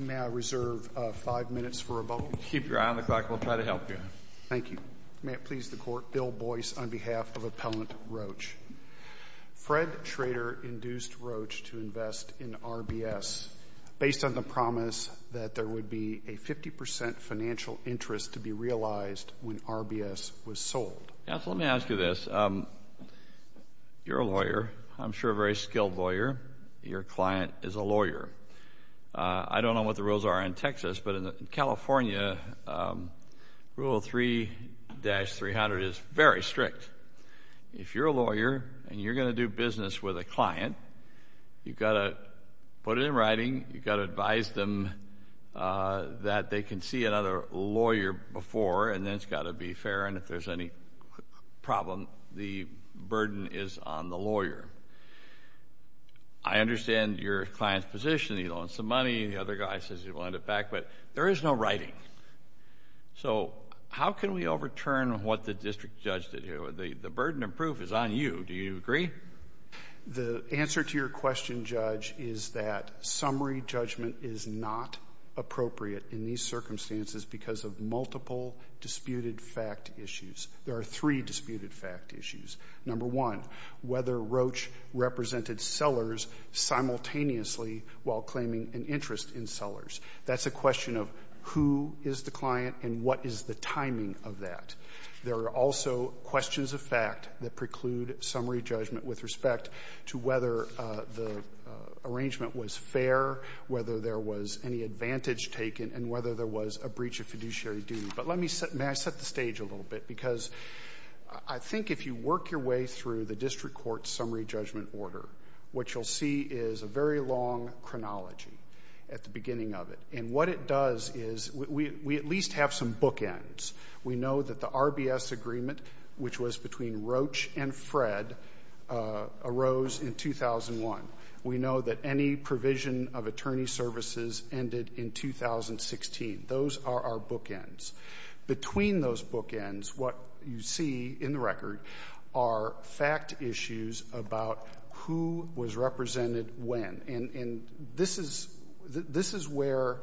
May I reserve five minutes for rebuttal? Keep your eye on the clock. We'll try to help you. Thank you. May it please the Court, Bill Boyce on behalf of Appellant Roach. Fred Schrader induced Roach to invest in RBS based on the promise that there would be a 50% financial interest to be realized when RBS was sold. Yes, let me ask you this. You're a lawyer, I'm sure a very skilled lawyer. Your client is a lawyer. I don't know what the rules are in Texas, but in California, Rule 3-300 is very strict. If you're a lawyer and you're going to do business with a client, you've got to put it in writing, you've got to advise them that they can see another lawyer before, and then it's got to be fair, and if there's any problem, the burden is on the lawyer. I understand your client's position. He loaned some money, the other guy says he'll lend it back, but there is no writing. So how can we overturn what the district judge did here? The burden of proof is on you. Do you agree? The answer to your question, Judge, is that summary judgment is not appropriate in these circumstances because of multiple disputed fact issues. There are three disputed fact issues. Number one, whether Roach represented sellers simultaneously while claiming an interest in sellers. That's a question of who is the client and what is the timing of that. There are also questions of fact that preclude summary judgment with respect to whether the arrangement was fair, whether there was any advantage taken, and whether there was a breach of fiduciary duty. But let me set the stage a little bit because I think if you work your way through the district court summary judgment order, what you'll see is a very long chronology at the beginning of it, and what it does is we at least have some bookends. We know that the RBS agreement, which was between Roach and Fred, arose in 2001. We know that any provision of attorney services ended in 2016. Those are our bookends. Between those bookends, what you see in the record are fact issues about who was represented when. And this is where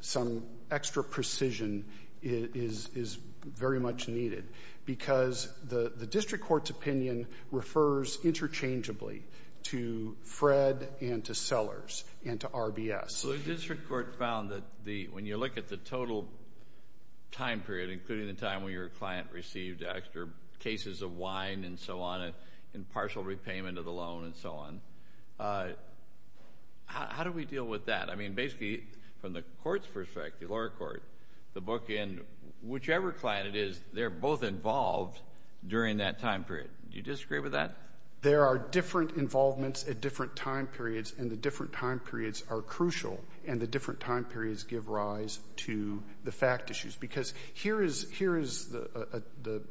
some extra precision is very much needed because the district court's opinion refers interchangeably to Fred and to sellers and to RBS. So the district court found that when you look at the total time period, including the time when your client received extra cases of wine and so on, and partial repayment of the loan and so on, how do we deal with that? I mean, basically, from the court's perspective, the lower court, the bookend, whichever client it is, they're both involved during that time period. Do you disagree with that? There are different involvements at different time periods, and the different time periods are crucial, and the different time periods give rise to the fact issues. Because here is the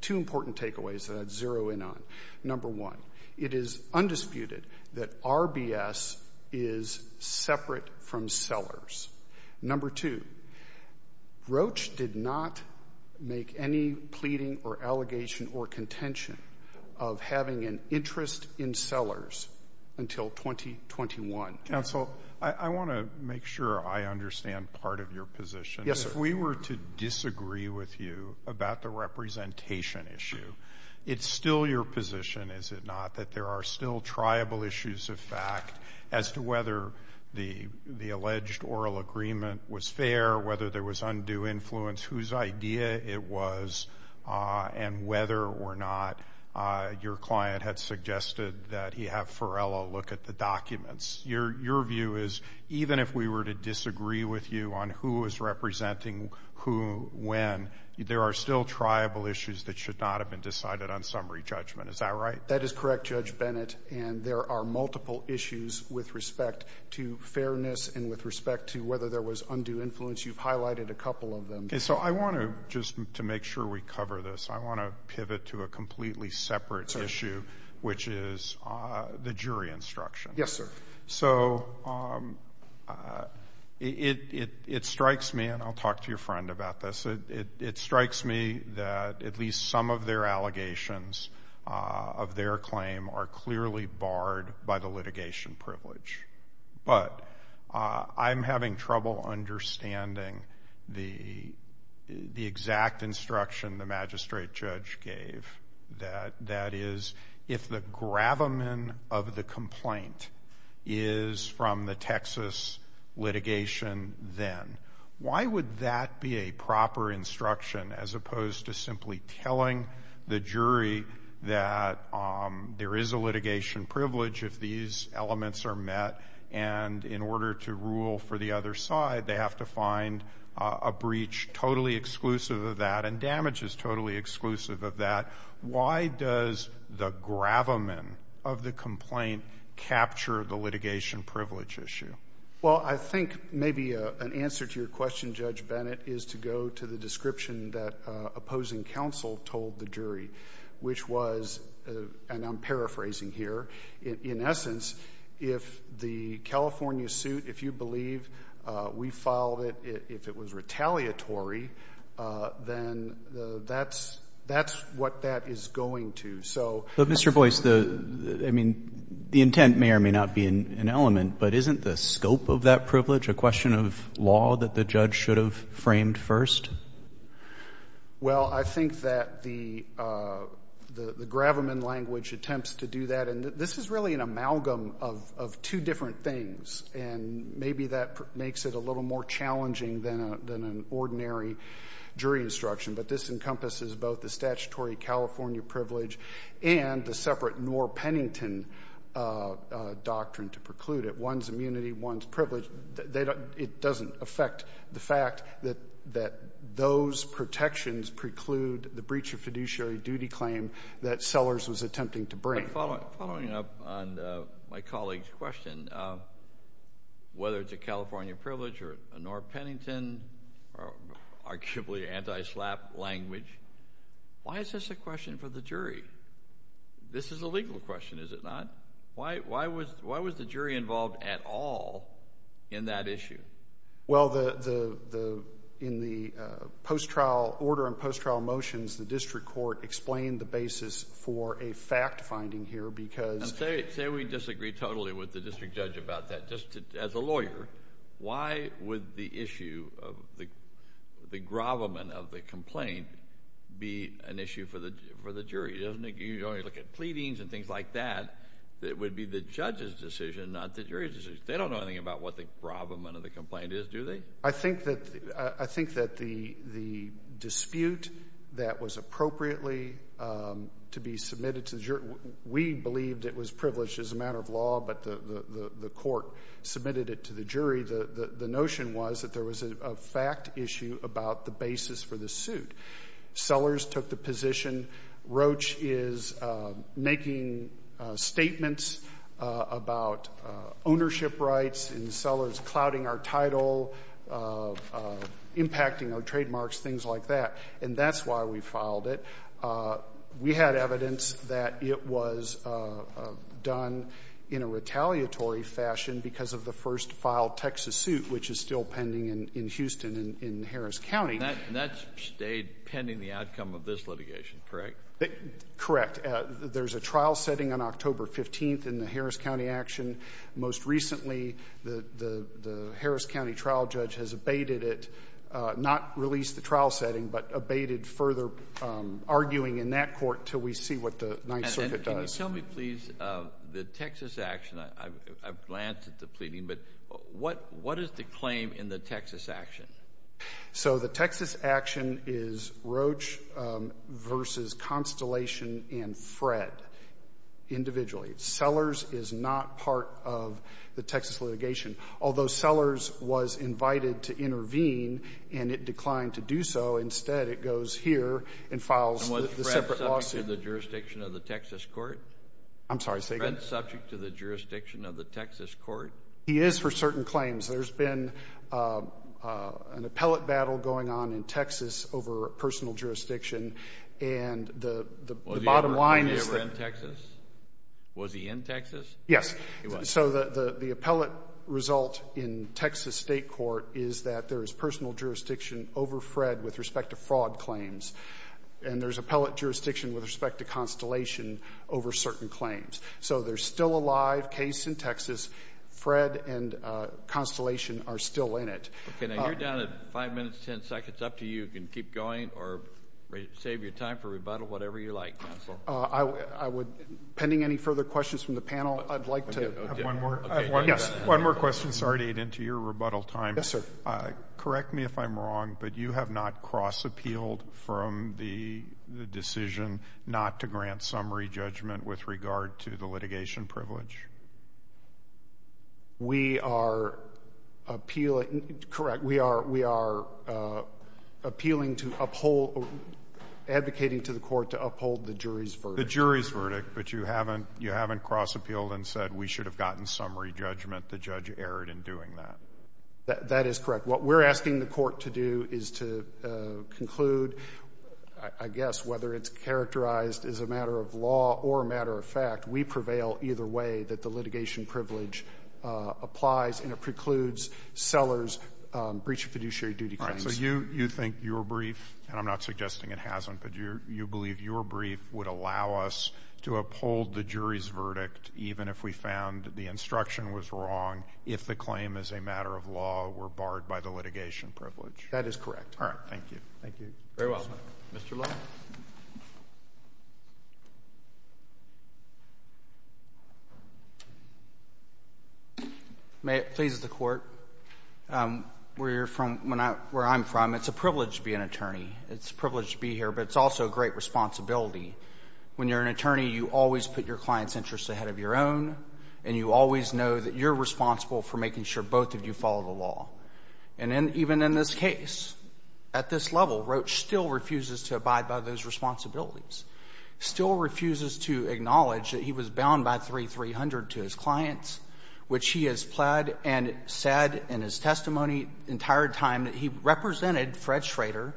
two important takeaways that I'd zero in on. Number one, it is undisputed that RBS is separate from sellers. Number two, Roche did not make any pleading or allegation or contention of having an interest in sellers until 2021. Counsel, I want to make sure I understand part of your position. Yes, sir. If we were to disagree with you about the representation issue, it's still your position, is it not, that there are still triable issues of fact as to whether the alleged oral agreement was fair, whether there was undue influence, whose idea it was, and whether or not your client had suggested that he have Ferrella look at the documents. Your view is, even if we were to disagree with you on who is representing who when, there are still triable issues that should not have been decided on summary judgment. Is that right? That is correct, Judge Bennett. And there are multiple issues with respect to fairness and with respect to whether there was undue influence. You've highlighted a couple of them. So I want to just to make sure we cover this, I want to pivot to a completely separate issue, which is the jury instruction. Yes, sir. So it strikes me, and I'll talk to your friend about this, it strikes me that at least some of their allegations of their claim are clearly barred by the litigation privilege. But I'm having trouble understanding the exact instruction the magistrate judge gave, that is, if the gravamen of the complaint is from the Texas litigation then. Why would that be a proper instruction as opposed to simply telling the jury that there is a litigation privilege if these elements are met? And in order to rule for the other side, they have to find a breach totally exclusive of that, and damage is totally exclusive of that. Why does the gravamen of the complaint capture the litigation privilege issue? Well, I think maybe an answer to your question, Judge Bennett, is to go to the description that opposing counsel told the jury. Which was, and I'm paraphrasing here, in essence, if the California suit, if you believe we filed it, if it was retaliatory, then that's what that is going to. So- But Mr. Boyce, I mean, the intent may or may not be an element, but isn't the scope of that privilege a question of law that the judge should have framed first? Well, I think that the gravamen language attempts to do that, and this is really an amalgam of two different things. And maybe that makes it a little more challenging than an ordinary jury instruction. But this encompasses both the statutory California privilege and the separate Norr-Pennington doctrine to preclude it. One's immunity, one's privilege. It doesn't affect the fact that those protections preclude the breach of fiduciary duty claim that Sellers was attempting to bring. Following up on my colleague's question, whether it's a California privilege or a Norr-Pennington, or arguably anti-SLAPP language, why is this a question for the jury? This is a legal question, is it not? Why was the jury involved at all in that issue? Well, in the post-trial order and post-trial motions, the district court explained the basis for a fact-finding here, because— And say we disagree totally with the district judge about that. Just as a lawyer, why would the issue of the gravamen of the complaint be an issue for the jury? You only look at pleadings and things like that. It would be the judge's decision, not the jury's decision. They don't know anything about what the gravamen of the complaint is, do they? I think that the dispute that was appropriately to be submitted to the jury— We believed it was privileged as a matter of law, but the court submitted it to the jury. The notion was that there was a fact issue about the basis for the suit. Sellers took the position. Roach is making statements about ownership rights and sellers clouding our title, impacting our trademarks, things like that. And that's why we filed it. We had evidence that it was done in a retaliatory fashion because of the first filed Texas suit, which is still pending in Houston in Harris County. That stayed pending the outcome of this litigation, correct? Correct. There's a trial setting on October 15th in the Harris County action. Most recently, the Harris County trial judge has abated it, not released the trial setting, but abated further arguing in that court until we see what the Ninth Circuit does. Can you tell me, please, the Texas action—I've glanced at the pleading, but what is the claim in the Texas action? So the Texas action is Roach versus Constellation and Fred individually. Sellers is not part of the Texas litigation. Although Sellers was invited to intervene and it declined to do so, instead it goes here and files the separate lawsuit. Was Fred subject to the jurisdiction of the Texas court? I'm sorry, say again? Was Fred subject to the jurisdiction of the Texas court? He is for certain claims. There's been an appellate battle going on in Texas over personal jurisdiction, and the bottom line is— Was he ever in Texas? Was he in Texas? Yes. So the appellate result in Texas state court is that there is personal jurisdiction over Fred with respect to fraud claims, and there's appellate jurisdiction with respect to Constellation over certain claims. So there's still a live case in Texas. Fred and Constellation are still in it. Okay, now you're down to 5 minutes, 10 seconds. Up to you. You can keep going or save your time for rebuttal, whatever you like, counsel. Pending any further questions from the panel, I'd like to— I have one more. One more question. Sorry to get into your rebuttal time. Yes, sir. Correct me if I'm wrong, but you have not cross-appealed from the decision not to grant summary judgment with regard to the litigation privilege? We are appealing—correct. We are appealing to uphold—advocating to the court to uphold the jury's verdict. The jury's verdict, but you haven't cross-appealed and said we should have gotten summary judgment. The judge erred in doing that. That is correct. What we're asking the court to do is to conclude, I guess, whether it's characterized as a matter of law or a matter of fact. We prevail either way that the litigation privilege applies, and it precludes sellers' breach of fiduciary duty claims. So you think your brief—and I'm not suggesting it hasn't—but you believe your brief would allow us to uphold the jury's verdict, even if we found the instruction was wrong, if the claim as a matter of law were barred by the litigation privilege? That is correct. All right. Thank you. Thank you. Very well. Mr. Lowe. May it please the Court, where you're from, where I'm from, it's a privilege to be an It's a privilege to be here, but it's also a great responsibility. When you're an attorney, you always put your client's interests ahead of your own, and you always know that you're responsible for making sure both of you follow the law. And even in this case, at this level, Roach still refuses to abide by those responsibilities, still refuses to acknowledge that he was bound by 3-300 to his clients, which he has pled and said in his testimony the entire time that he represented Fred Schrader.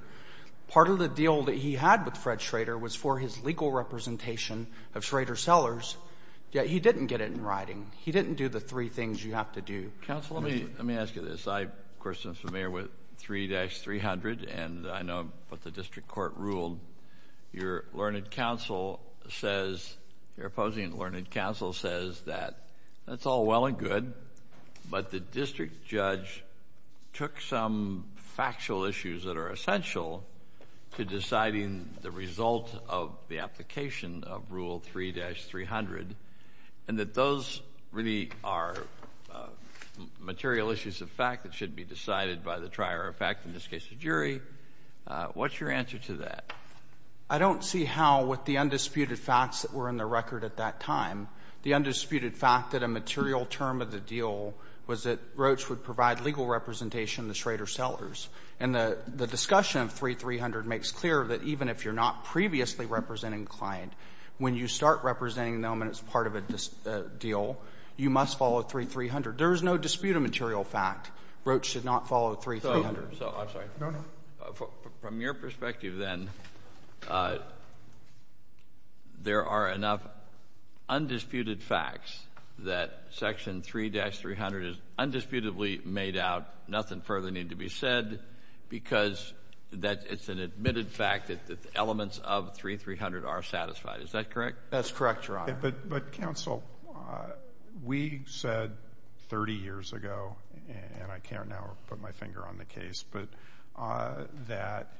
Part of the deal that he had with Fred Schrader was for his legal representation of Schrader sellers, yet he didn't get it in writing. He didn't do the three things you have to do. Counsel, let me ask you this. I, of course, am familiar with 3-300, and I know what the district court ruled. Your learned counsel says, your opposing learned counsel says that that's all well and good, but the district judge took some factual issues that are essential to deciding the result of the application of Rule 3-300, and that those really are material issues of fact that should be decided by the trier of fact, in this case, the jury. What's your answer to that? I don't see how, with the undisputed facts that were in the record at that time, the undisputed fact that a material term of the deal was that Roach would provide legal representation of the Schrader sellers. And the discussion of 3-300 makes clear that even if you're not previously representing a client, when you start representing them and it's part of a deal, you must follow 3-300. There is no disputed material fact Roach should not follow 3-300. So, I'm sorry. From your perspective, then, there are enough undisputed facts that Section 3-300 is undisputedly made out, nothing further need to be said, because it's an admitted fact that the elements of 3-300 are satisfied. Is that correct? That's correct, Your Honor. But, counsel, we said 30 years ago, and I can't now put my finger on the case, but that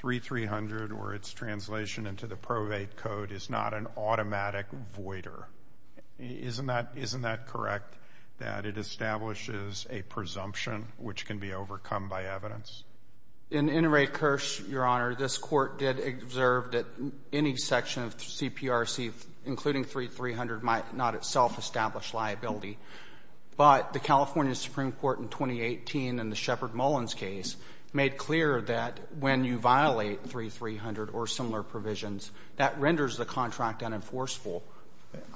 3-300 or its translation into the probate code is not an automatic voider. Isn't that correct, that it establishes a presumption which can be overcome by evidence? In Inouye-Kersh, Your Honor, this court did observe that any section of CPRC, including 3-300, might not itself establish liability. But the California Supreme Court in 2018, in the Shepard Mullins case, made clear that when you violate 3-300 or similar provisions, that renders the contract unenforceable.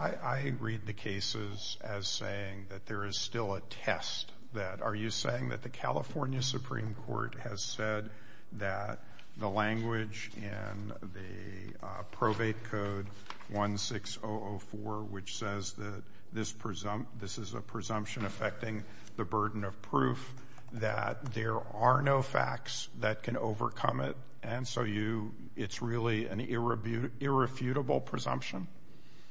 I read the cases as saying that there is still a test. Are you saying that the California Supreme Court has said that the language in the probate code 16004, which says that this is a presumption affecting the burden of proof, that there are no facts that can overcome it, and so it's really an irrefutable presumption?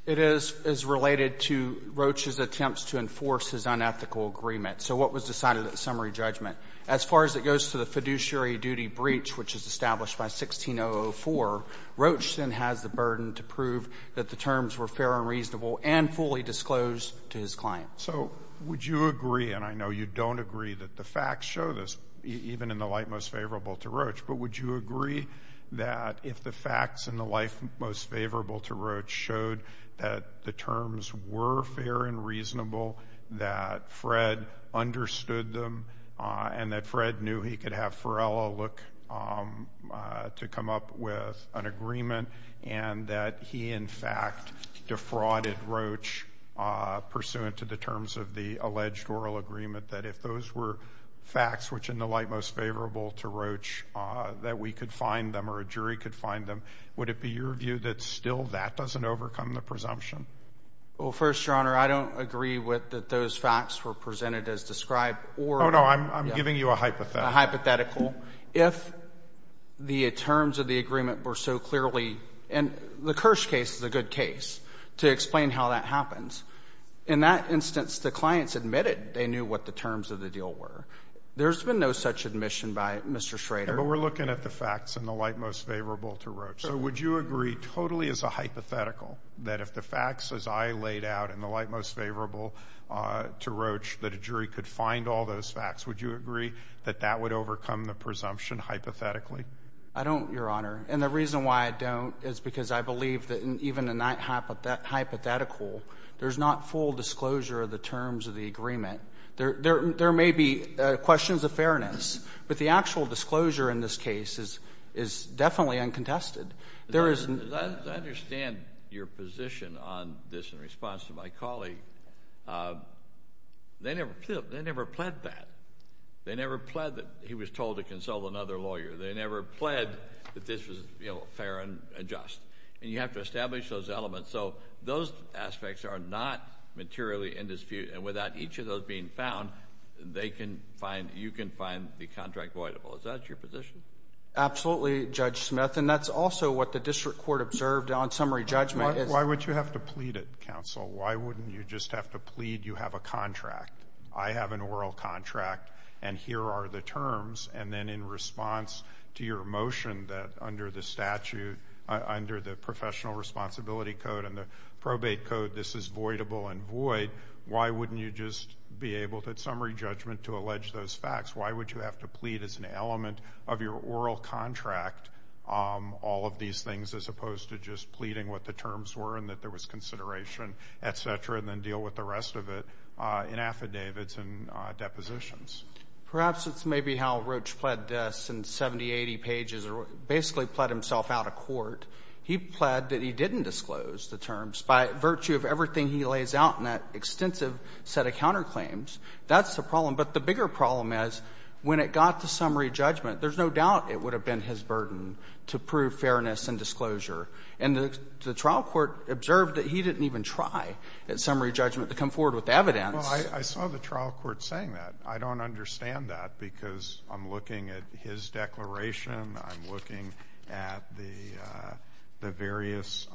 It is related to Roach's attempts to enforce his unethical agreement. So what was decided at the summary judgment? As far as it goes to the fiduciary duty breach, which is established by 16004, Roach then has the burden to prove that the terms were fair and reasonable and fully disclosed to his client. So would you agree, and I know you don't agree, that the facts show this, even in the light most favorable to Roach, but would you agree that if the facts in the light most favorable to Roach showed that the terms were fair and reasonable, that Fred understood them, and that Fred knew he could have Ferrella look to come up with an agreement, and that he, in fact, defrauded Roach pursuant to the terms of the alleged oral agreement, that if those were facts which, in the light most favorable to Roach, that we could find them or a jury could find them, would it be your view that still that doesn't overcome the presumption? Well, first, Your Honor, I don't agree with that those facts were presented as described or... Oh, no. I'm giving you a hypothetical. A hypothetical. If the terms of the agreement were so clearly, and the Kirsch case is a good case to explain how that happens. In that instance, the clients admitted they knew what the terms of the deal were. There's been no such admission by Mr. Schrader. But we're looking at the facts in the light most favorable to Roach. So would you agree, totally as a hypothetical, that if the facts, as I laid out in the light most favorable to Roach, that a jury could find all those facts, would you agree that that would overcome the presumption hypothetically? I don't, Your Honor. And the reason why I don't is because I believe that even in that hypothetical, there's not full disclosure of the terms of the agreement. There may be questions of fairness, but the actual disclosure in this case is definitely uncontested. There is... I understand your position on this in response to my colleague. They never pled that. They never pled that he was told to consult another lawyer. They never pled that this was fair and just. And you have to establish those elements. So those aspects are not materially in dispute. And without each of those being found, you can find the contract voidable. Is that your position? Absolutely, Judge Smith. And that's also what the district court observed on summary judgment. Why would you have to plead it, counsel? Why wouldn't you just have to plead you have a contract? I have an oral contract, and here are the terms. And then in response to your motion that under the statute, under the professional responsibility code and the probate code, this is voidable and void, why wouldn't you just be able at summary judgment to allege those facts? Why would you have to plead as an element of your oral contract all of these things as opposed to just pleading what the terms were and that there was consideration, et cetera, and then deal with the rest of it in affidavits and depositions? Perhaps it's maybe how Roach pled this in 70, 80 pages or basically pled himself out of court. He pled that he didn't disclose the terms by virtue of everything he lays out in that extensive set of counterclaims. That's the problem. But the bigger problem is when it got to summary judgment, there's no doubt it would have been his burden to prove fairness and disclosure. And the trial court observed that he didn't even try at summary judgment to come forward with evidence. Well, I saw the trial court saying that. I don't understand that because I'm looking at his declaration. I'm looking at the various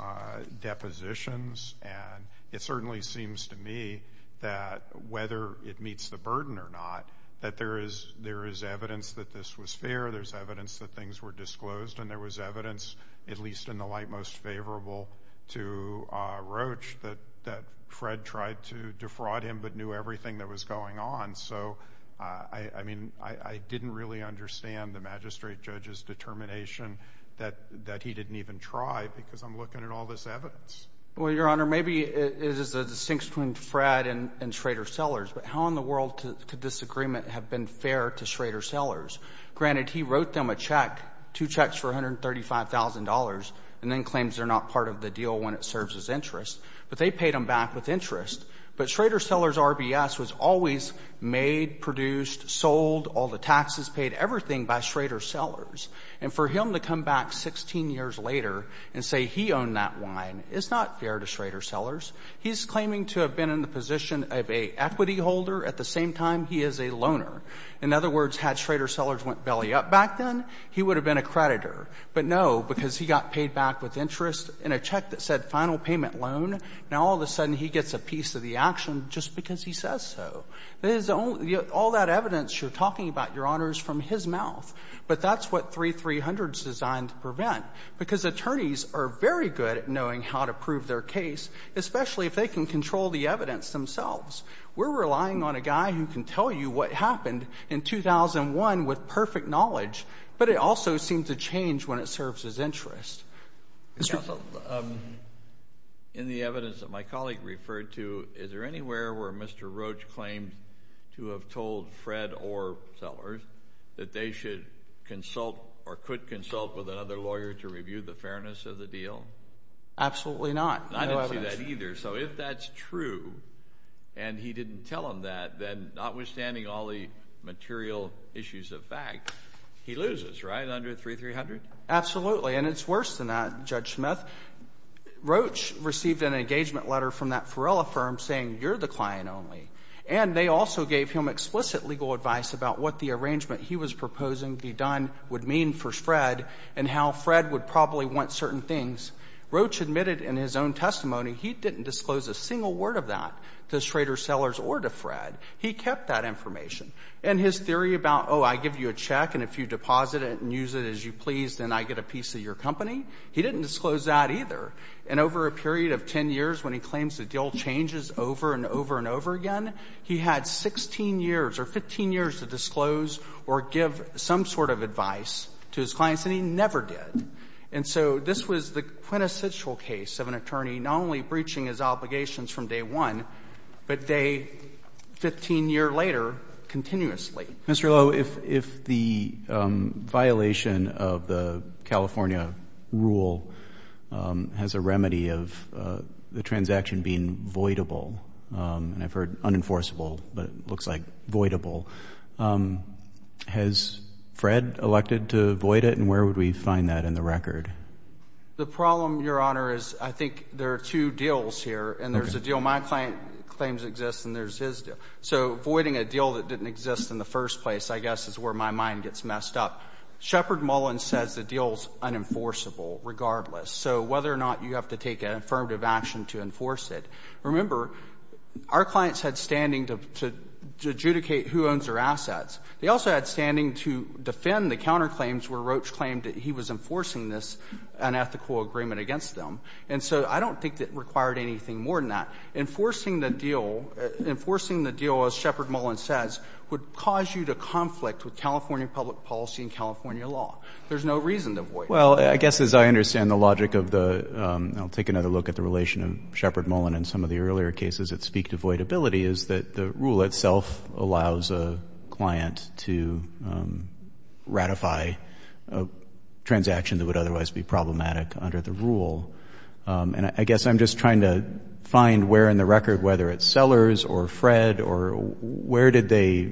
depositions. And it certainly seems to me that whether it meets the burden or not, that there is evidence that this was fair. There's evidence that things were disclosed. And there was evidence, at least in the light most favorable to Roach, that Fred tried to defraud him but knew everything that was going on. So, I mean, I didn't really understand the magistrate judge's determination that he didn't even try because I'm looking at all this evidence. Well, Your Honor, maybe it is a distinction between Fred and Schrader Sellers. But how in the world could this agreement have been fair to Schrader Sellers? Granted, he wrote them a check, two checks for $135,000, and then claims they're not part of the deal when it serves his interest. But they paid him back with interest. But Schrader Sellers' RBS was always made, produced, sold, all the taxes paid, everything by Schrader Sellers. And for him to come back 16 years later and say he owned that wine is not fair to Schrader Sellers. He's claiming to have been in the position of an equity holder at the same time he is a loaner. In other words, had Schrader Sellers went belly up back then, he would have been a creditor. But no, because he got paid back with interest in a check that said final payment loan, now all of a sudden he gets a piece of the action just because he says so. That is the only — all that evidence you're talking about, Your Honor, is from his mouth. But that's what 3300 is designed to prevent. Because attorneys are very good at knowing how to prove their case, especially if they can control the evidence themselves. We're relying on a guy who can tell you what happened in 2001 with perfect knowledge, but it also seems to change when it serves his interest. JUSTICE KENNEDY Counsel, in the evidence that my colleague referred to, is there anywhere where Mr. Roach claimed to have told Fred or Sellers that they should consult or could consult with another lawyer to review the fairness of the deal? Absolutely not. I didn't see that either. So if that's true and he didn't tell them that, then notwithstanding all the material issues of fact, he loses, right, under 3300? Absolutely. And it's worse than that, Judge Smith. Roach received an engagement letter from that Ferrella firm saying, you're the client only. And they also gave him explicit legal advice about what the arrangement he was proposing be done would mean for Fred and how Fred would probably want certain things. Roach admitted in his own testimony he didn't disclose a single word of that to Schrader, Sellers, or to Fred. He kept that information. And his theory about, oh, I give you a check and if you deposit it and use it as you please, then I get a piece of your company, he didn't disclose that either. And over a period of 10 years, when he claims the deal changes over and over and over again, he had 16 years or 15 years to disclose or give some sort of advice to his clients, and he never did. And so this was the quintessential case of an attorney not only breaching his obligations from day one, but day 15 years later, continuously. Mr. Lowe, if the violation of the California rule has a remedy of the transaction being voidable, and I've heard unenforceable, but it looks like voidable, has Fred elected to void it? And where would we find that in the record? The problem, Your Honor, is I think there are two deals here. And there's a deal my client claims exists and there's his deal. So voiding a deal that didn't exist in the first place, I guess, is where my mind gets messed up. Shepard Mullen says the deal's unenforceable regardless. So whether or not you have to take an affirmative action to enforce it. Remember, our clients had standing to adjudicate who owns their assets. They also had standing to defend the counterclaims where Roach claimed that he was enforcing this unethical agreement against them. And so I don't think that required anything more than that. Enforcing the deal, enforcing the deal, as Shepard Mullen says, would cause you to conflict with California public policy and California law. There's no reason to void it. Well, I guess as I understand the logic of the, I'll take another look at the relation of Shepard Mullen and some of the earlier cases that speak to voidability, is that the rule itself allows a client to ratify a transaction that would otherwise be problematic under the rule. And I guess I'm just trying to find where in the record, whether it's Sellers or Fred, or where did they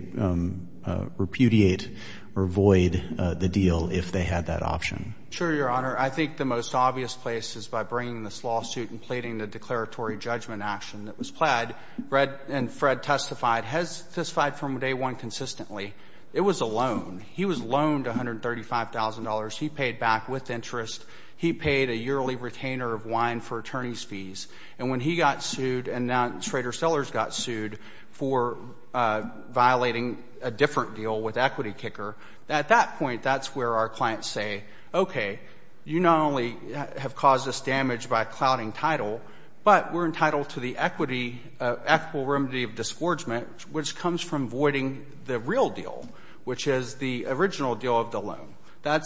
repudiate or void the deal if they had that option? Sure, Your Honor. I think the most obvious place is by bringing this lawsuit and pleading the declaratory judgment action that was pled. Fred testified, has testified from day one consistently. It was a loan. He was loaned $135,000. He paid back with interest. He paid a yearly retainer of wine for attorney's fees. And when he got sued and now Schrader Sellers got sued for violating a different deal with Equity Kicker, at that point, that's where our clients say, okay, you not only have caused us damage by clouding title, but we're entitled to the equity, equitable remedy of disgorgement, which comes from voiding the real deal, which is the original deal of the loan. That,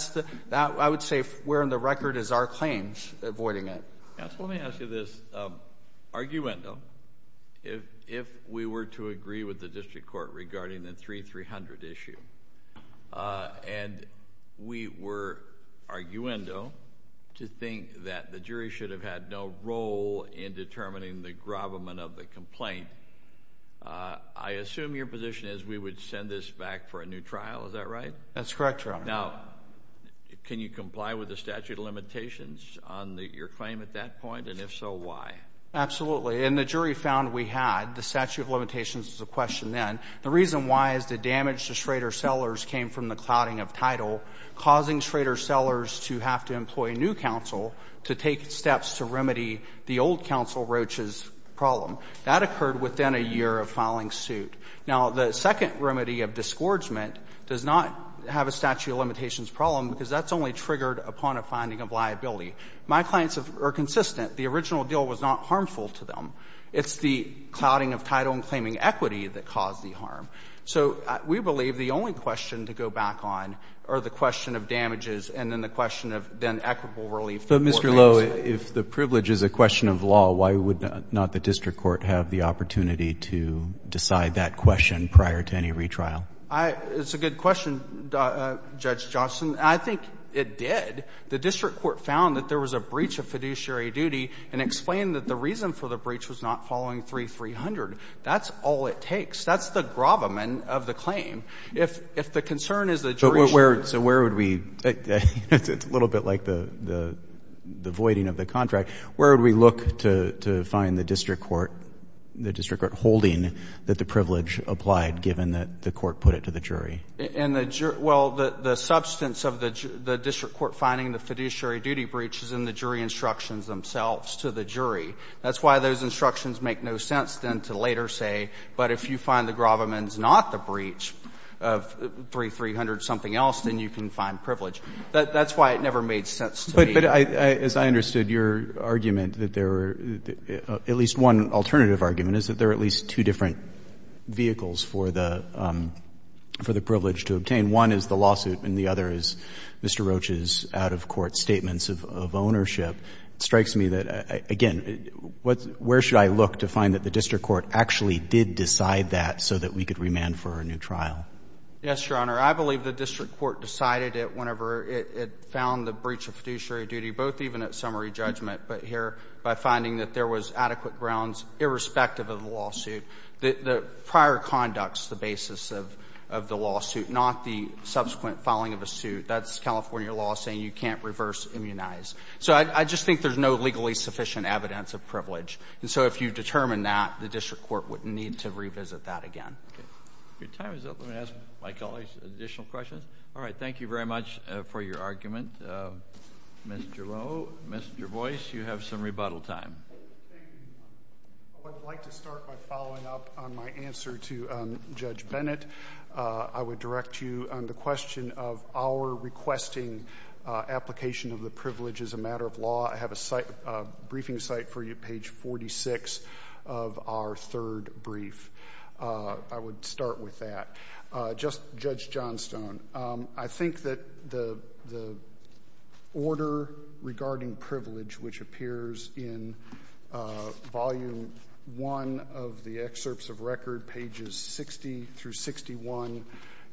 I would say, where in the record is our claims avoiding it? Counsel, let me ask you this. Arguendo, if we were to agree with the district court regarding the 3-300 issue, and we were arguendo to think that the jury should have had no role in determining the gravamen of the complaint, I assume your position is we would send this back for a new trial. Is that right? That's correct, Your Honor. Now, can you comply with the statute of limitations on your claim at that point? And if so, why? Absolutely. And the jury found we had. The statute of limitations was a question then. The reason why is the damage to Schrader Sellers came from the clouding of title, causing Schrader Sellers to have to employ a new counsel to take steps to remedy the old counsel Roach's problem. That occurred within a year of filing suit. Now, the second remedy of disgorgement does not have a statute of limitations problem, because that's only triggered upon a finding of liability. My clients are consistent. The original deal was not harmful to them. It's the clouding of title and claiming equity that caused the harm. So we believe the only question to go back on are the question of damages and then the question of then equitable relief. But, Mr. Lowe, if the privilege is a question of law, why would not the district court have the opportunity to decide that question prior to any retrial? It's a good question, Judge Johnston. I think it did. The district court found that there was a breach of fiduciary duty and explained that the reason for the breach was not following 3-300. That's all it takes. That's the gravamen of the claim. If the concern is the jury. So where would we, it's a little bit like the voiding of the contract, where would we look to find the district court holding that the privilege applied given that the court put it to the jury? Well, the substance of the district court finding the fiduciary duty breach is in the jury instructions themselves to the jury. That's why those instructions make no sense then to later say, but if you find the gravamen is not the breach of 3-300 something else, then you can find privilege. That's why it never made sense to me. But as I understood your argument that there were, at least one alternative argument, is that there are at least two different vehicles for the privilege to obtain. One is the lawsuit and the other is Mr. Roach's out-of-court statements of ownership. It strikes me that, again, where should I look to find that the district court actually did decide that so that we could remand for a new trial? Yes, Your Honor. I believe the district court decided it whenever it found the breach of fiduciary duty, both even at summary judgment, but here by finding that there was adequate grounds irrespective of the lawsuit. The prior conduct is the basis of the lawsuit, not the subsequent filing of a suit. That's California law saying you can't reverse immunize. So I just think there's no legally sufficient evidence of privilege. And so if you determine that, the district court would need to revisit that again. Your time is up. Let me ask my colleagues additional questions. All right. Thank you very much for your argument. Mr. Lowe, Mr. Boyce, you have some rebuttal time. I would like to start by following up on my answer to Judge Bennett. I would direct you on the question of our requesting application of the privilege as a matter of law. I have a briefing site for you, page 46 of our third brief. I would start with that. Just Judge Johnstone, I think that the order regarding privilege, which appears in volume one of the excerpts of record, pages 60 through 61,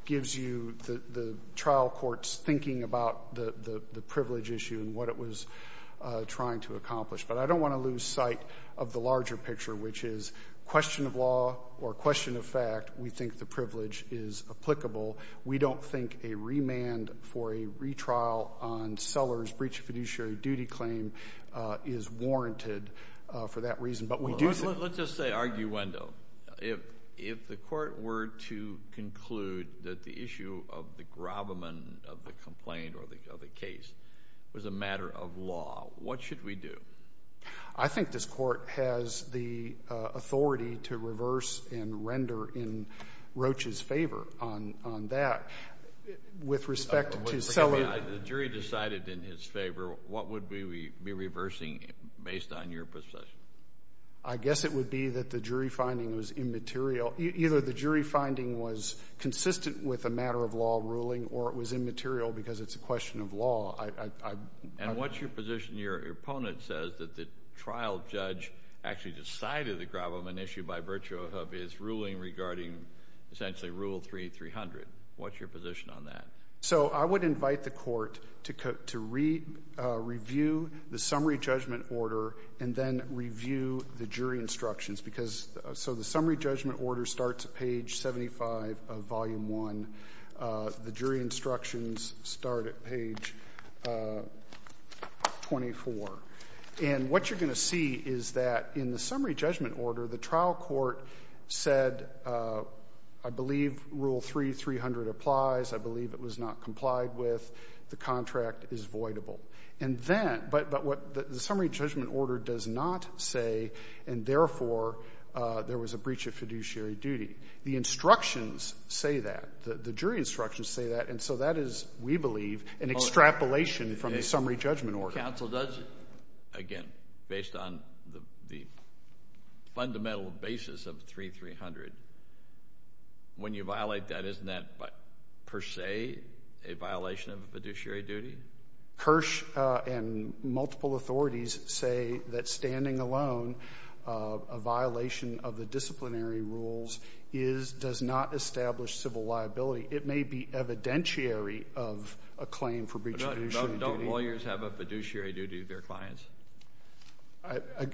gives you the trial courts thinking about the privilege issue and what it was trying to accomplish. But I don't want to lose sight of the larger picture, which is question of law or question of fact. We think the privilege is applicable. We don't think a remand for a retrial on seller's breach of fiduciary duty claim is warranted for that reason. But we do— Let's just say arguendo. If the court were to conclude that the issue of the grabberment of the complaint or the case was a matter of law, what should we do? I think this court has the authority to reverse and render in Roach's favor on that. With respect to seller— The jury decided in his favor. What would we be reversing based on your position? I guess it would be that the jury finding was immaterial. Either the jury finding was consistent with a matter of law ruling or it was immaterial because it's a question of law. And what's your position? Your opponent says that the trial judge actually decided the grabberment issue by virtue of his ruling regarding essentially Rule 3, 300. What's your position on that? So I would invite the court to review the summary judgment order and then review the jury instructions. So the summary judgment order starts at page 75 of Volume 1. The jury instructions start at page 24. And what you're going to see is that in the summary judgment order, the trial court said, I believe, Rule 3, 300 applies. I believe it was not complied with. The contract is voidable. And then—but what the summary judgment order does not say, and therefore, there was a breach of fiduciary duty. The instructions say that. The jury instructions say that. And so that is, we believe, an extrapolation from the summary judgment order. Counsel, does—again, based on the fundamental basis of 3, 300, when you violate that, isn't that per se a violation of fiduciary duty? Kirsch and multiple authorities say that standing alone, a violation of the disciplinary rules is—does not establish civil liability. It may be evidentiary of a claim for breach of fiduciary duty. Don't lawyers have a fiduciary duty to their clients?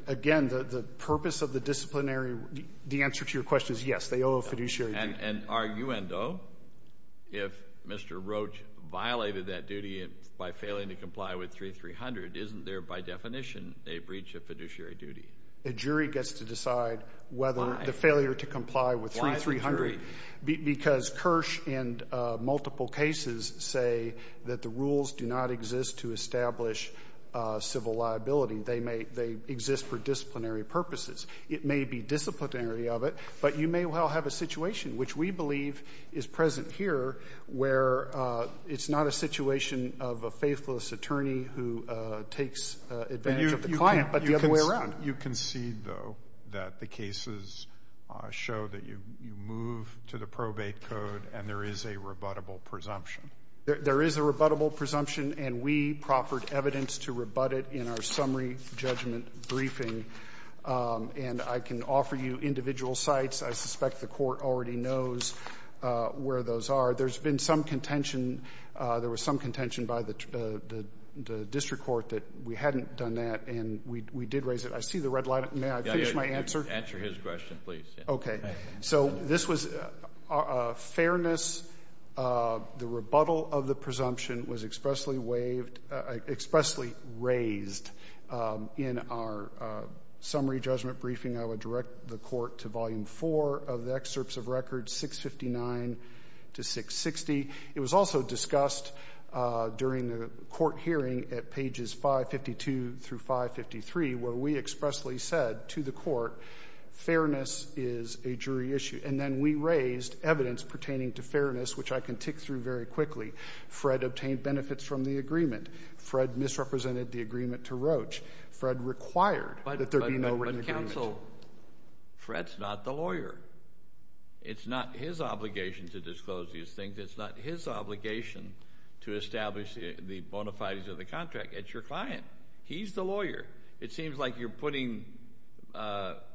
Again, the purpose of the disciplinary—the answer to your question is yes, they owe a fiduciary duty. And are you endowed if Mr. Roach violated that duty by failing to comply with 3, 300? Isn't there, by definition, a breach of fiduciary duty? A jury gets to decide whether— —the failure to comply with 3, 300. Because Kirsch and multiple cases say that the rules do not exist to establish civil liability. They may—they exist for disciplinary purposes. It may be disciplinary of it, but you may well have a situation, which we believe is present here, where it's not a situation of a faithless attorney who takes advantage of the client, but the other way around. You concede, though, that the cases show that you move to the probate code and there is a rebuttable presumption. There is a rebuttable presumption, and we proffered evidence to rebut it in our summary judgment briefing. And I can offer you individual sites. I suspect the Court already knows where those are. There's been some contention—there was some contention by the district court that we hadn't done that, and we did raise it. I see the red line. May I finish my answer? Answer his question, please. Okay. So this was fairness. The rebuttal of the presumption was expressly waived—expressly raised in our summary judgment briefing. I would direct the Court to Volume 4 of the Excerpts of Records, 659 to 660. It was also discussed during the Court hearing at pages 552 through 553, where we expressly said to the Court, fairness is a jury issue. And then we raised evidence pertaining to fairness, which I can tick through very quickly. Fred obtained benefits from the agreement. Fred misrepresented the agreement to Roach. Fred required that there be no written agreement. But, counsel, Fred's not the lawyer. It's not his obligation to disclose these things. It's not his obligation to establish the bona fides of the contract. It's your client. He's the lawyer. It seems like you're putting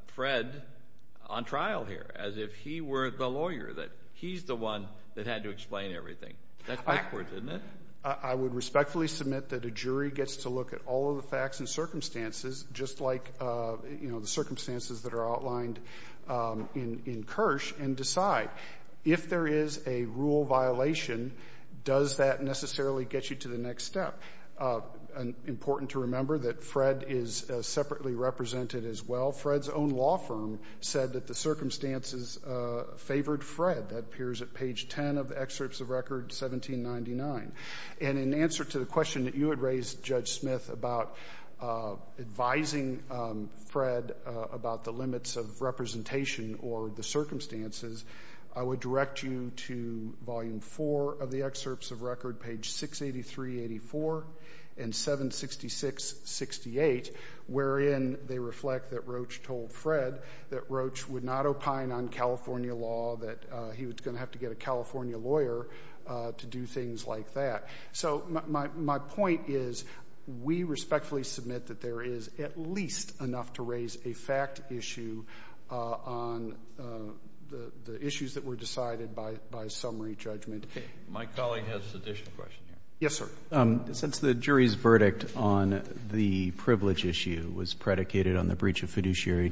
Fred on trial here, as if he were the lawyer, that he's the one that had to explain everything. That's backwards, isn't it? I would respectfully submit that a jury gets to look at all of the facts and circumstances, just like, you know, the circumstances that are outlined in Kirsch, and decide if there is a rule violation, does that necessarily get you to the next step? Important to remember that Fred is separately represented as well. Fred's own law firm said that the circumstances favored Fred. That appears at page 10 of excerpts of record 1799. And in answer to the question that you had raised, Judge Smith, about advising Fred about the limits of representation or the circumstances, I would direct you to volume 4 of the excerpts of record, page 683-84 and 766-68, wherein they reflect that Roach told Fred that Roach would not opine on California law, that he was going to have to get a California lawyer to do things like that. So my point is, we respectfully submit that there is at least enough to raise a fact issue on the issues that were decided by summary judgment. Okay. My colleague has an additional question. Yes, sir. Since the jury's verdict on the privilege issue was predicated on the breach of fiduciary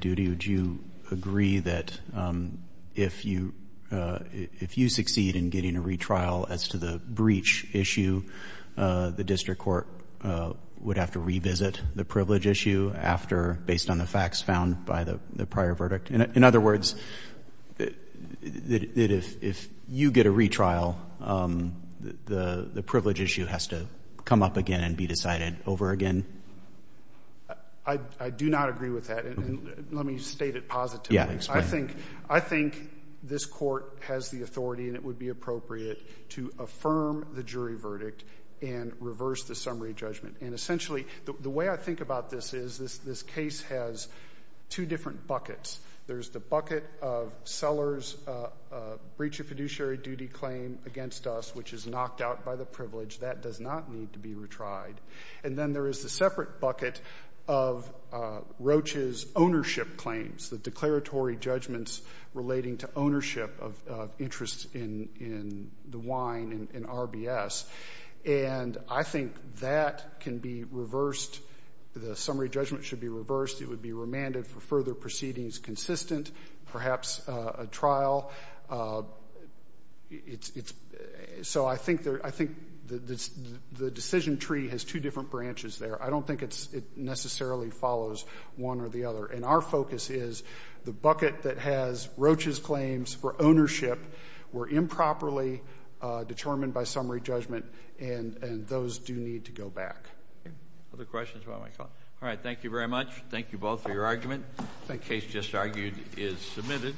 the district court would have to revisit the privilege issue after, based on the facts found by the prior verdict. In other words, that if you get a retrial, the privilege issue has to come up again and be decided over again? I do not agree with that. And let me state it positively. Yeah, explain. I think this court has the authority and it would be appropriate to affirm the jury verdict and reverse the summary judgment. And essentially, the way I think about this is, this case has two different buckets. There's the bucket of Sellers' breach of fiduciary duty claim against us, which is knocked out by the privilege. That does not need to be retried. And then there is the separate bucket of Roach's ownership claims, the declaratory judgments relating to ownership of interest in the wine in RBS. And I think that can be reversed. The summary judgment should be reversed. It would be remanded for further proceedings consistent, perhaps a trial. So, I think the decision tree has two different branches there. I don't think it necessarily follows one or the other. And our focus is the bucket that has Roach's claims for ownership were improperly determined by summary judgment. And those do need to go back. Other questions about my call? All right. Thank you very much. Thank you both for your argument. The case just argued is submitted.